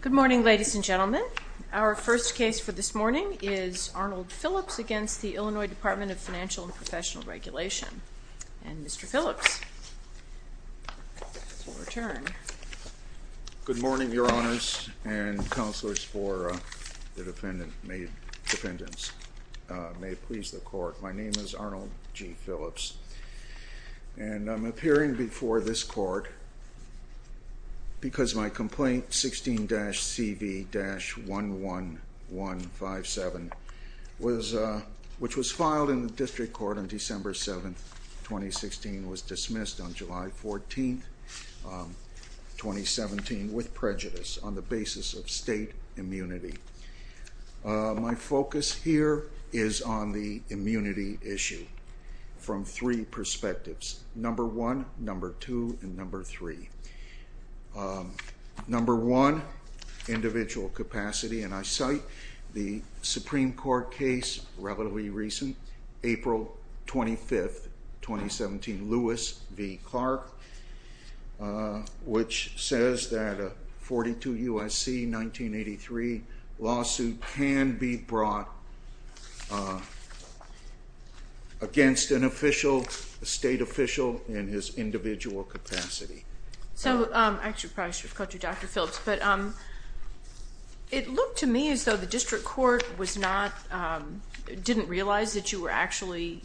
Good morning, ladies and gentlemen. Our first case for this morning is Arnold Phillips against the Illinois Department of Financial and Professional Regulation. And Mr. Phillips will return. Good morning, Your Honors and counselors for the defendants. May it please the Court, my name is Arnold G. Phillips and I'm appearing before this Court because my complaint 16-CV-11157 which was filed in the District Court on December 7th, 2016 was dismissed on July 14th, 2017 with prejudice on the basis of state immunity. My focus here is on the immunity issue from three perspectives. Number one, number two, and number three. Number one, individual capacity. And I cite the Supreme Court case, relatively recent, April 25th, 2017, Lewis v. Clark, which says that a 42 U.S.C. 1983 lawsuit can be brought against an official, a state official, in his individual capacity. So, I should probably cut to Dr. Phillips, but it looked to me as though the District Court was not, didn't realize that you were actually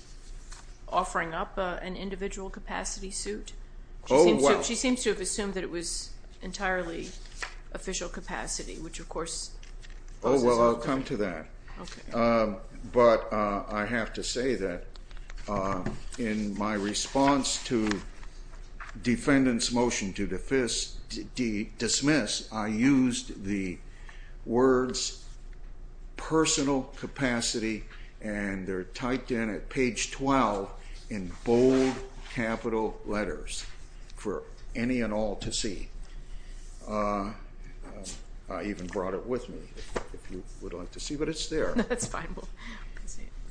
drawing up an individual capacity suit. Oh, well. She seems to have assumed that it was entirely official capacity, which of course causes all kind of... Oh, well, I'll come to that. Okay. But I have to say that in my response to defendants' motion to dismiss, I used the words personal capacity, and they're typed in at page 12 in bold capital letters for any and all to see. I even brought it with me, if you would like to see, but it's there. That's fine.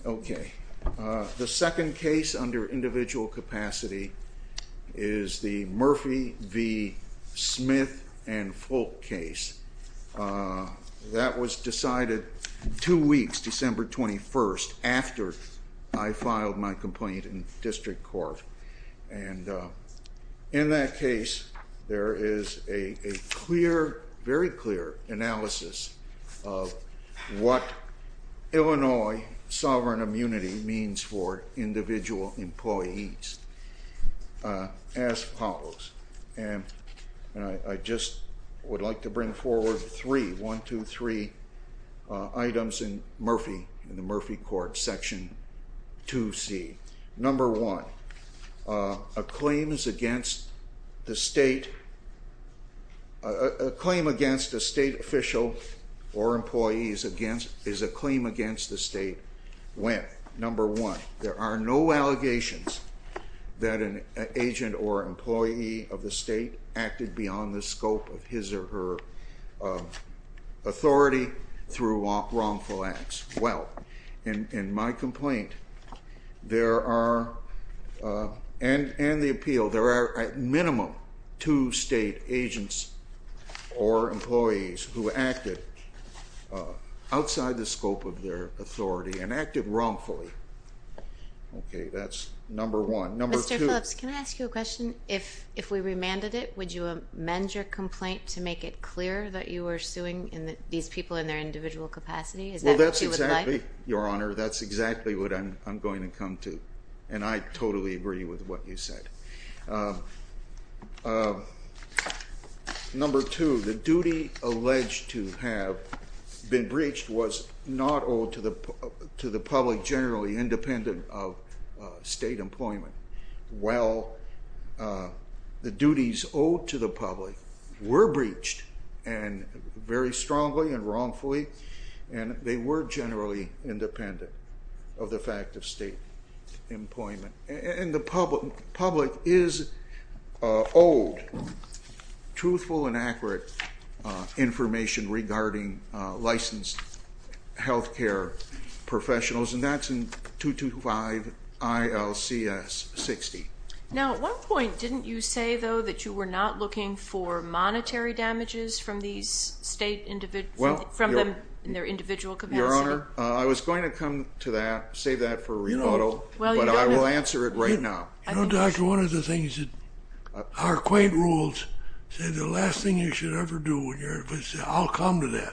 Okay. The second case under individual capacity is the Murphy v. Smith and Folk case. That was decided two weeks, December 21st, after I filed my complaint in District Court. And in that case, there is a clear, very clear analysis of what Illinois sovereign immunity means for individual employees as follows. And I just would like to bring forward three, one, two, three items in Murphy, in the Murphy court, section 2C. Number one, a claim against a state official or employee is a claim against the state. Number one, there are no allegations that an agent or employee of the state acted beyond the scope of his or her authority through wrongful acts. Well, in my complaint, there are, and the appeal, there are at minimum two state agents or employees who acted outside the scope of their authority and acted wrongfully. Okay, that's number one. Number two. Mr. Phillips, can I ask you a question? If we remanded it, would you amend your complaint to make it clear that you were suing these people in their individual capacity? Is that what you would like? Well, that's exactly, Your Honor, that's exactly what I'm going to come to. And I totally agree with what you said. Number two, the duty alleged to have been breached was not owed to the public generally independent of state employment. While the duties owed to the public were breached, and very strongly and wrongfully, and they were generally independent of the fact of state employment. And the public is owed truthful and accurate information regarding licensed health care professionals, and that's in 225 ILCS 60. Now, at one point, didn't you say, though, that you were not looking for something from them in their individual capacity? Your Honor, I was going to come to that, save that for Renato, but I will answer it right now. You know, Dodger, one of the things that our quaint rules say, the last thing you should ever do when you're in a position, I'll come to that.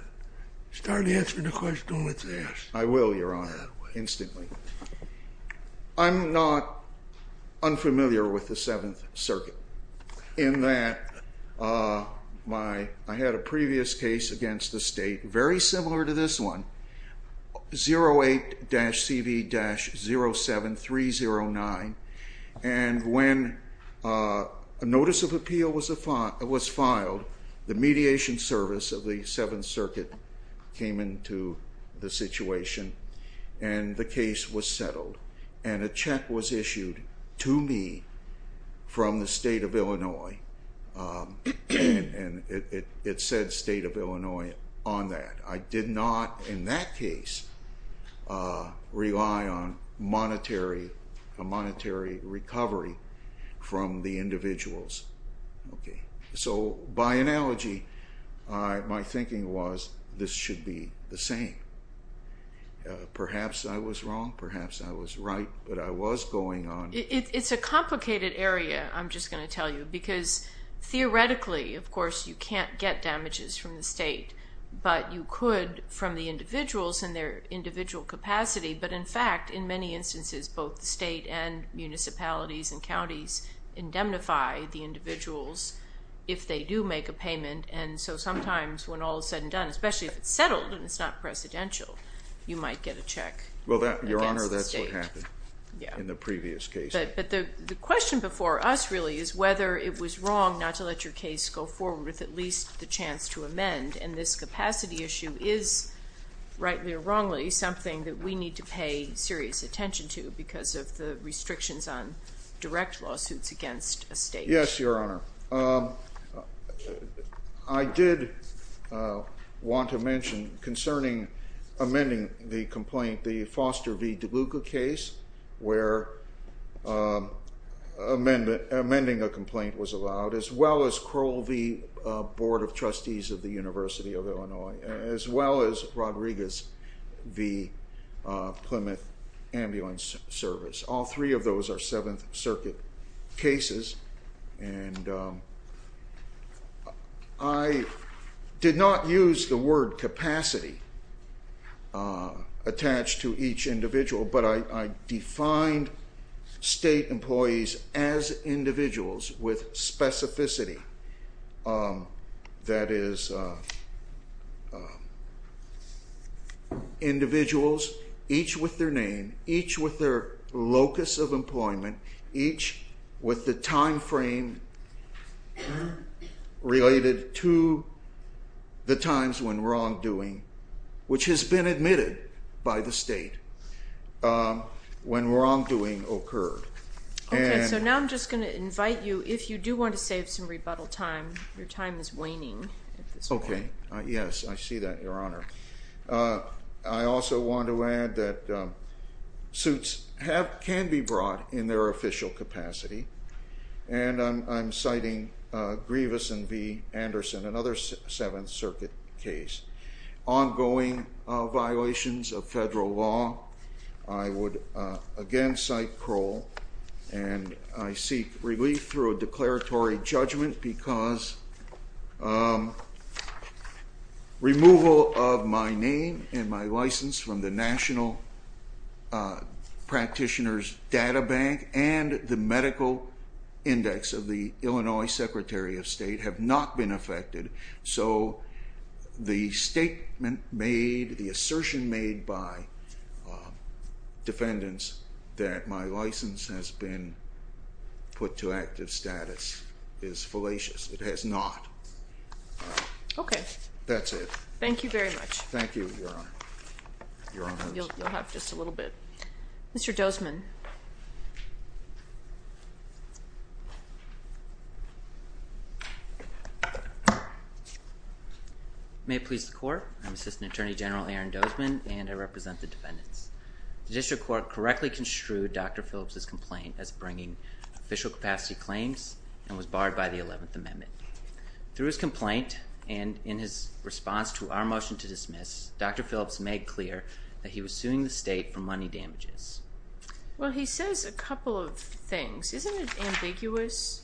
Start answering the question, don't let it pass. I will, Your Honor, instantly. I'm not unfamiliar with the Seventh Circuit in that I had a previous case against the state, very similar to this one, 08-CV-07309, and when a notice of appeal was filed, the mediation service of the Seventh Circuit came into the situation and the case was settled. And a check was issued to me from the State of Illinois, and it said State of Illinois on that. I did not, in that case, rely on a monetary recovery from the individuals. So by analogy, my thinking was this should be the same. Perhaps I was wrong, perhaps I was right, but I was going on. It's a complicated area, I'm just going to tell you, because theoretically, of course, you can't get damages from the state, but you could from the individuals and their individual capacity. But, in fact, in many instances, both the state and municipalities and counties indemnify the individuals if they do make a payment. And so sometimes when all is said and done, especially if it's settled and it's not presidential, you might get a check against the state. Well, Your Honor, that's what happened in the previous case. But the question before us, really, is whether it was wrong not to let your case go forward with at least the chance to amend. And this capacity issue is, rightly or wrongly, something that we need to pay serious attention to because of the restrictions on direct lawsuits against a state. Yes, Your Honor. I did want to mention concerning amending the complaint, the Foster v. DeLuca case, where amending a complaint was allowed, as well as Crowell v. Board of Trustees of the University of Illinois, as well as Rodriguez v. Plymouth Ambulance Service. All three of those are Seventh Circuit cases. And I did not use the word capacity attached to each individual, but I defined state employees as individuals with specificity. That is, individuals, each with their name, and each with the time frame related to the times when wrongdoing, which has been admitted by the state, when wrongdoing occurred. Okay, so now I'm just going to invite you, if you do want to save some rebuttal time, your time is waning at this point. Okay, yes, I see that, Your Honor. I also want to add that suits can be brought in their official capacity, and I'm citing Grievous v. Anderson, another Seventh Circuit case. Ongoing violations of federal law, I would again cite Crowell, and I seek relief through a declaratory judgment because removal of my name and my license from the National Practitioner's Data Bank and the Medical Index of the Illinois Secretary of State have not been affected. So the statement made, the assertion made by defendants that my license has been put to active status is fallacious. It has not. Okay. That's it. Thank you very much. Thank you, Your Honor. You'll have just a little bit. Mr. Dozman. May it please the Court. I'm Assistant Attorney General Aaron Dozman, and I represent the defendants. The district court correctly construed Dr. Phillips' complaint as bringing official capacity claims and was barred by the 11th Amendment. Through his complaint and in his response to our motion to dismiss, Dr. Phillips made clear that he was suing the state for money damages. Well, he says a couple of things. Isn't it ambiguous?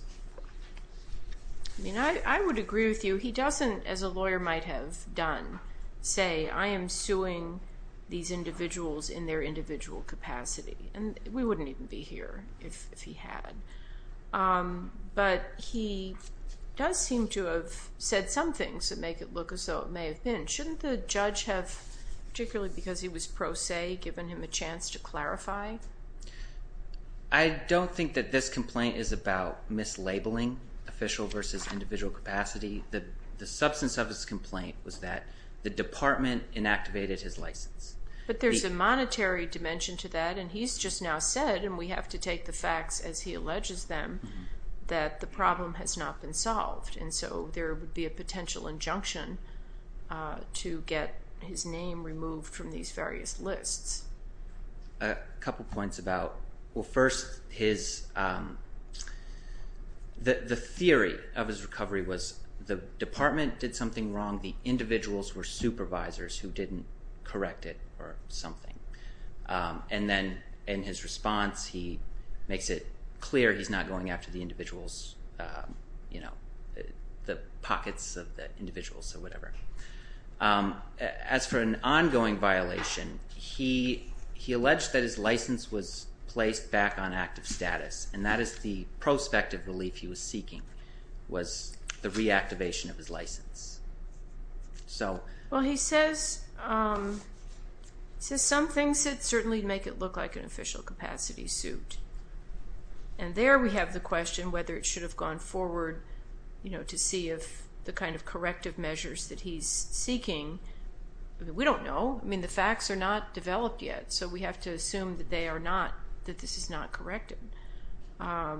I mean, I would agree with you. He doesn't, as a lawyer might have done, say I am suing these individuals in their individual capacity, and we wouldn't even be here if he had. But he does seem to have said some things that make it look as though it may have been. Shouldn't the judge have, particularly because he was pro se, given him a chance to clarify? I don't think that this complaint is about mislabeling official versus individual capacity. The substance of his complaint was that the department inactivated his license. But there's a monetary dimension to that, and he's just now said, and we have to take the facts as he alleges them, that the problem has not been solved. And so there would be a potential injunction to get his name removed from these various lists. A couple of points about, well, first his, the theory of his recovery was the department did something wrong, the individuals were supervisors who didn't correct it or something. And then in his response he makes it clear he's not going after the individuals, the pockets of the individuals or whatever. As for an ongoing violation, he alleged that his license was placed back on active status, and that is the prospective relief he was seeking, was the reactivation of his license. Well, he says some things certainly make it look like an official capacity suit. And there we have the question whether it should have gone forward to see if the kind of corrective measures that he's seeking, we don't know. I mean, the facts are not developed yet, so we have to assume that they are not, that this is not corrective. At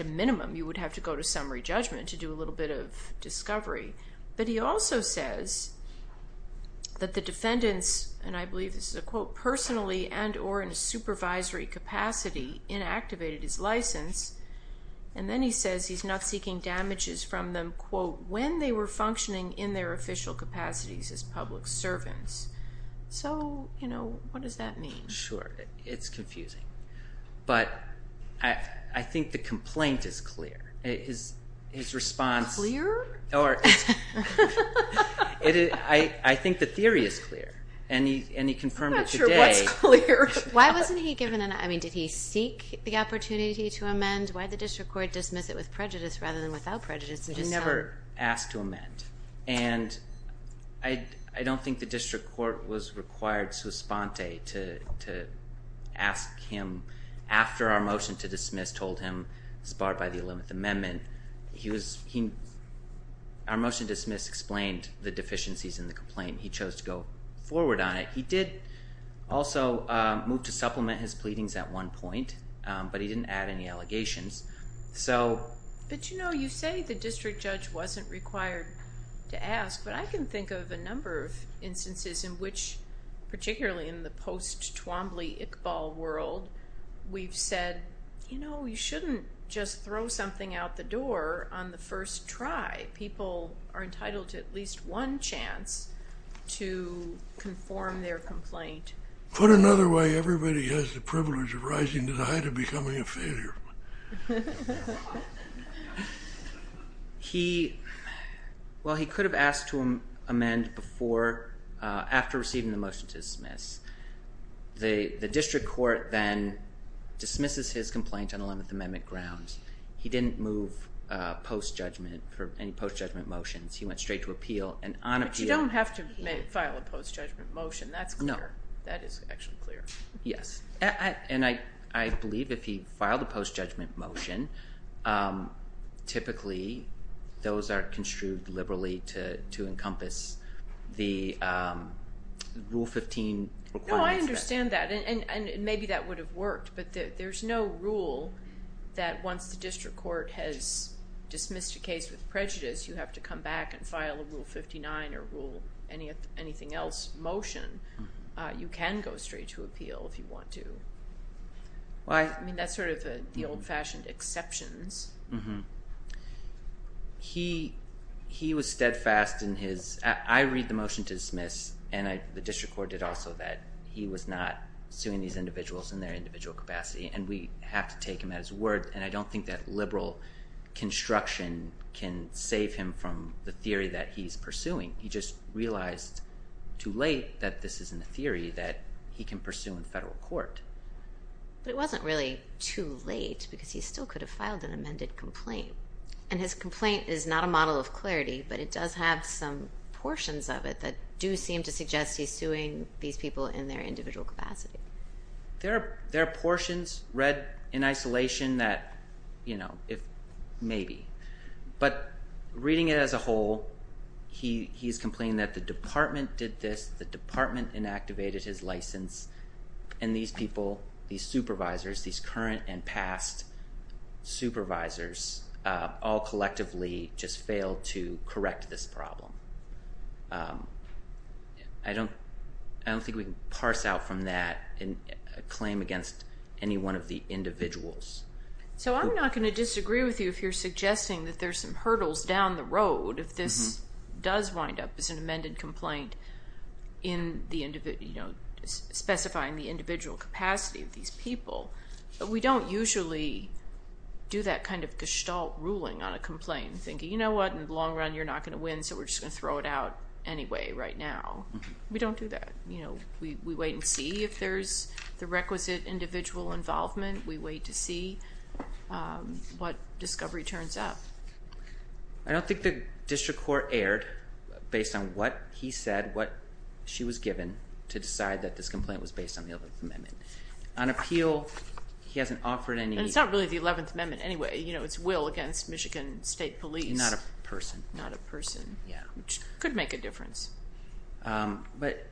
a minimum, you would have to go to summary judgment to do a little bit of discovery. But he also says that the defendants, and I believe this is a quote, personally and or in a supervisory capacity inactivated his license. And then he says he's not seeking damages from them, quote, when they were functioning in their official capacities as public servants. So, you know, what does that mean? Sure. It's confusing. But I think the complaint is clear. Clear? I think the theory is clear, and he confirmed it today. I'm not sure what's clear. Why wasn't he given an, I mean, did he seek the opportunity to amend? Why did the district court dismiss it with prejudice rather than without prejudice? He never asked to amend. And I don't think the district court was required to respond to ask him. After our motion to dismiss told him it was barred by the 11th Amendment, he was, our motion to dismiss explained the deficiencies in the complaint. He chose to go forward on it. He did also move to supplement his pleadings at one point, but he didn't add any allegations. But, you know, you say the district judge wasn't required to ask, but I can think of a number of instances in which, particularly in the post-Twombly-Iqbal world, we've said, you know, you shouldn't just throw something out the door on the first try. People are entitled to at least one chance to conform their complaint. Put another way, everybody has the privilege of rising to the height of becoming a failure. He, well, he could have asked to amend before, after receiving the motion to dismiss. The district court then dismisses his complaint on 11th Amendment grounds. He didn't move post-judgment for any post-judgment motions. He went straight to appeal. But you don't have to file a post-judgment motion. That's clear. No. That is actually clear. Yes. And I believe if he filed a post-judgment motion, typically those are construed liberally to encompass the Rule 15. No, I understand that, and maybe that would have worked. But there's no rule that once the district court has dismissed a case with prejudice, you have to come back and file a Rule 59 or rule anything else motion. You can go straight to appeal if you want to. Why? I mean, that's sort of the old-fashioned exceptions. He was steadfast in his – I read the motion to dismiss, and the district court did also that. He was not suing these individuals in their individual capacity, and we have to take him at his word. And I don't think that liberal construction can save him from the theory that he's pursuing. He just realized too late that this isn't a theory that he can pursue in federal court. But it wasn't really too late because he still could have filed an amended complaint. And his complaint is not a model of clarity, but it does have some portions of it that do seem to suggest he's suing these people in their individual capacity. There are portions read in isolation that, you know, maybe. But reading it as a whole, he's complaining that the department did this, the department inactivated his license, and these people, these supervisors, these current and past supervisors, all collectively just failed to correct this problem. I don't think we can parse out from that a claim against any one of the individuals. So I'm not going to disagree with you if you're suggesting that there's some hurdles down the road if this does wind up as an amended complaint specifying the individual capacity of these people. But we don't usually do that kind of gestalt ruling on a complaint, thinking, you know what, in the long run you're not going to win, so we're just going to throw it out anyway right now. We don't do that. We wait and see if there's the requisite individual involvement. We wait to see what discovery turns up. I don't think the district court erred based on what he said, what she was given to decide that this complaint was based on the Eleventh Amendment. On appeal, he hasn't offered any... And it's not really the Eleventh Amendment anyway. You know, it's Will against Michigan State Police. Not a person. Not a person. Yeah. Which could make a difference. But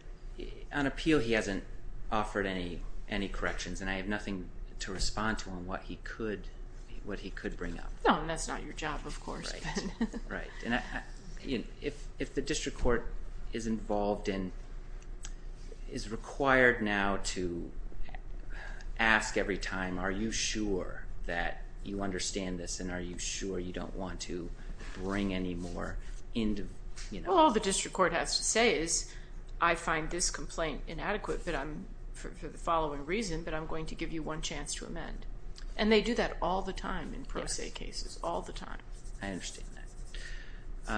on appeal he hasn't offered any corrections, and I have nothing to respond to on what he could bring up. No, and that's not your job, of course. Right. If the district court is involved and is required now to ask every time, are you sure that you understand this and are you sure you don't want to bring any more into... Well, all the district court has to say is, I find this complaint inadequate for the following reason, but I'm going to give you one chance to amend. And they do that all the time in pro se cases. Yes. All the time. I understand that.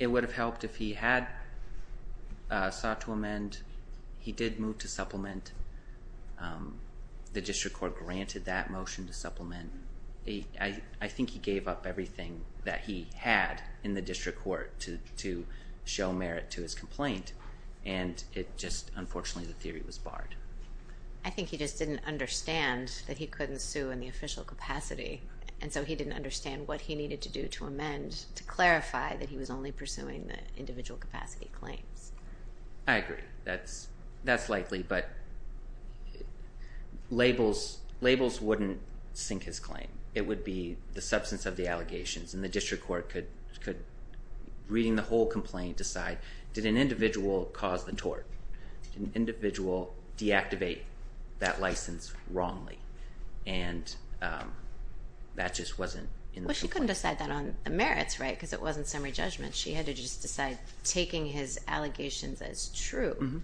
It would have helped if he had sought to amend. He did move to supplement. The district court granted that motion to supplement. I think he gave up everything that he had in the district court to show merit to his complaint, and it just, unfortunately, the theory was barred. I think he just didn't understand that he couldn't sue in the official capacity, and so he didn't understand what he needed to do to amend to clarify that he was only pursuing the individual capacity claims. I agree. That's likely, but labels wouldn't sink his claim. It would be the substance of the allegations, and the district court could, reading the whole complaint, decide did an individual cause the tort? Did an individual deactivate that license wrongly? And that just wasn't in the complaint. Well, she couldn't decide that on merits, right, because it wasn't summary judgment. She had to just decide taking his allegations as true.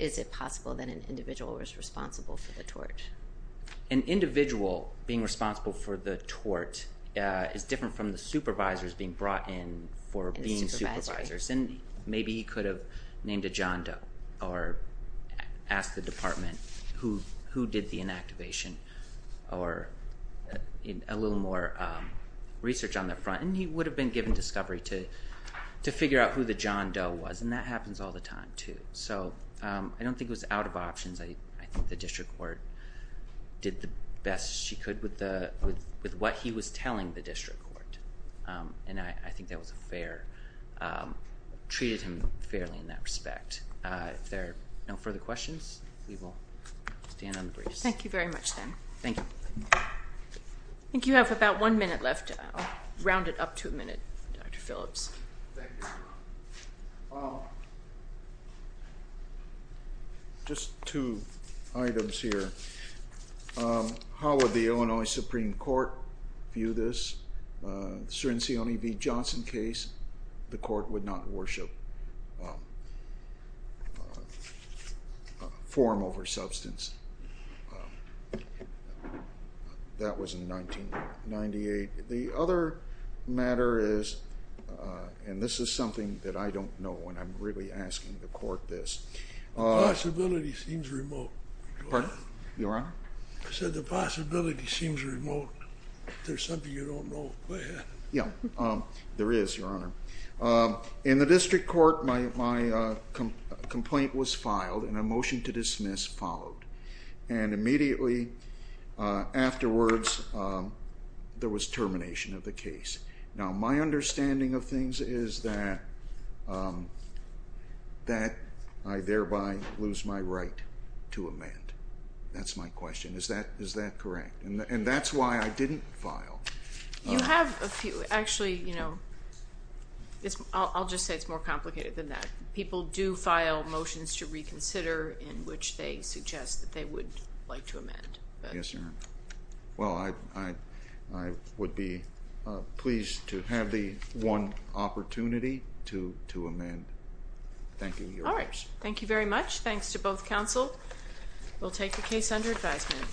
Is it possible that an individual was responsible for the tort? An individual being responsible for the tort is different from the supervisors being brought in for being supervisors. And maybe he could have named a John Doe or asked the department who did the inactivation or a little more research on that front, and he would have been given discovery to figure out who the John Doe was, and that happens all the time too. So I don't think it was out of options. I think the district court did the best she could with what he was telling the district court, and I think that was fair, treated him fairly in that respect. If there are no further questions, we will stand on the briefs. Thank you very much, then. Thank you. I think you have about one minute left. I'll round it up to a minute, Dr. Phillips. Thank you. Just two items here. How would the Illinois Supreme Court view this? The Cirincione v. Johnson case, the court would not worship form over substance. That was in 1998. The other matter is, and this is something that I don't know when I'm really asking the court this. The possibility seems remote. Your Honor? I said the possibility seems remote. If there's something you don't know, go ahead. Yeah, there is, Your Honor. In the district court, my complaint was filed, and a motion to dismiss followed, and immediately afterwards there was termination of the case. Now, my understanding of things is that I thereby lose my right to amend. That's my question. Is that correct? And that's why I didn't file. You have a few. Actually, you know, I'll just say it's more complicated than that. People do file motions to reconsider Yes, Your Honor. Well, I would be pleased to have the one opportunity to amend. Thank you, Your Honor. All right. Thank you very much. Thanks to both counsel. We'll take the case under advisement.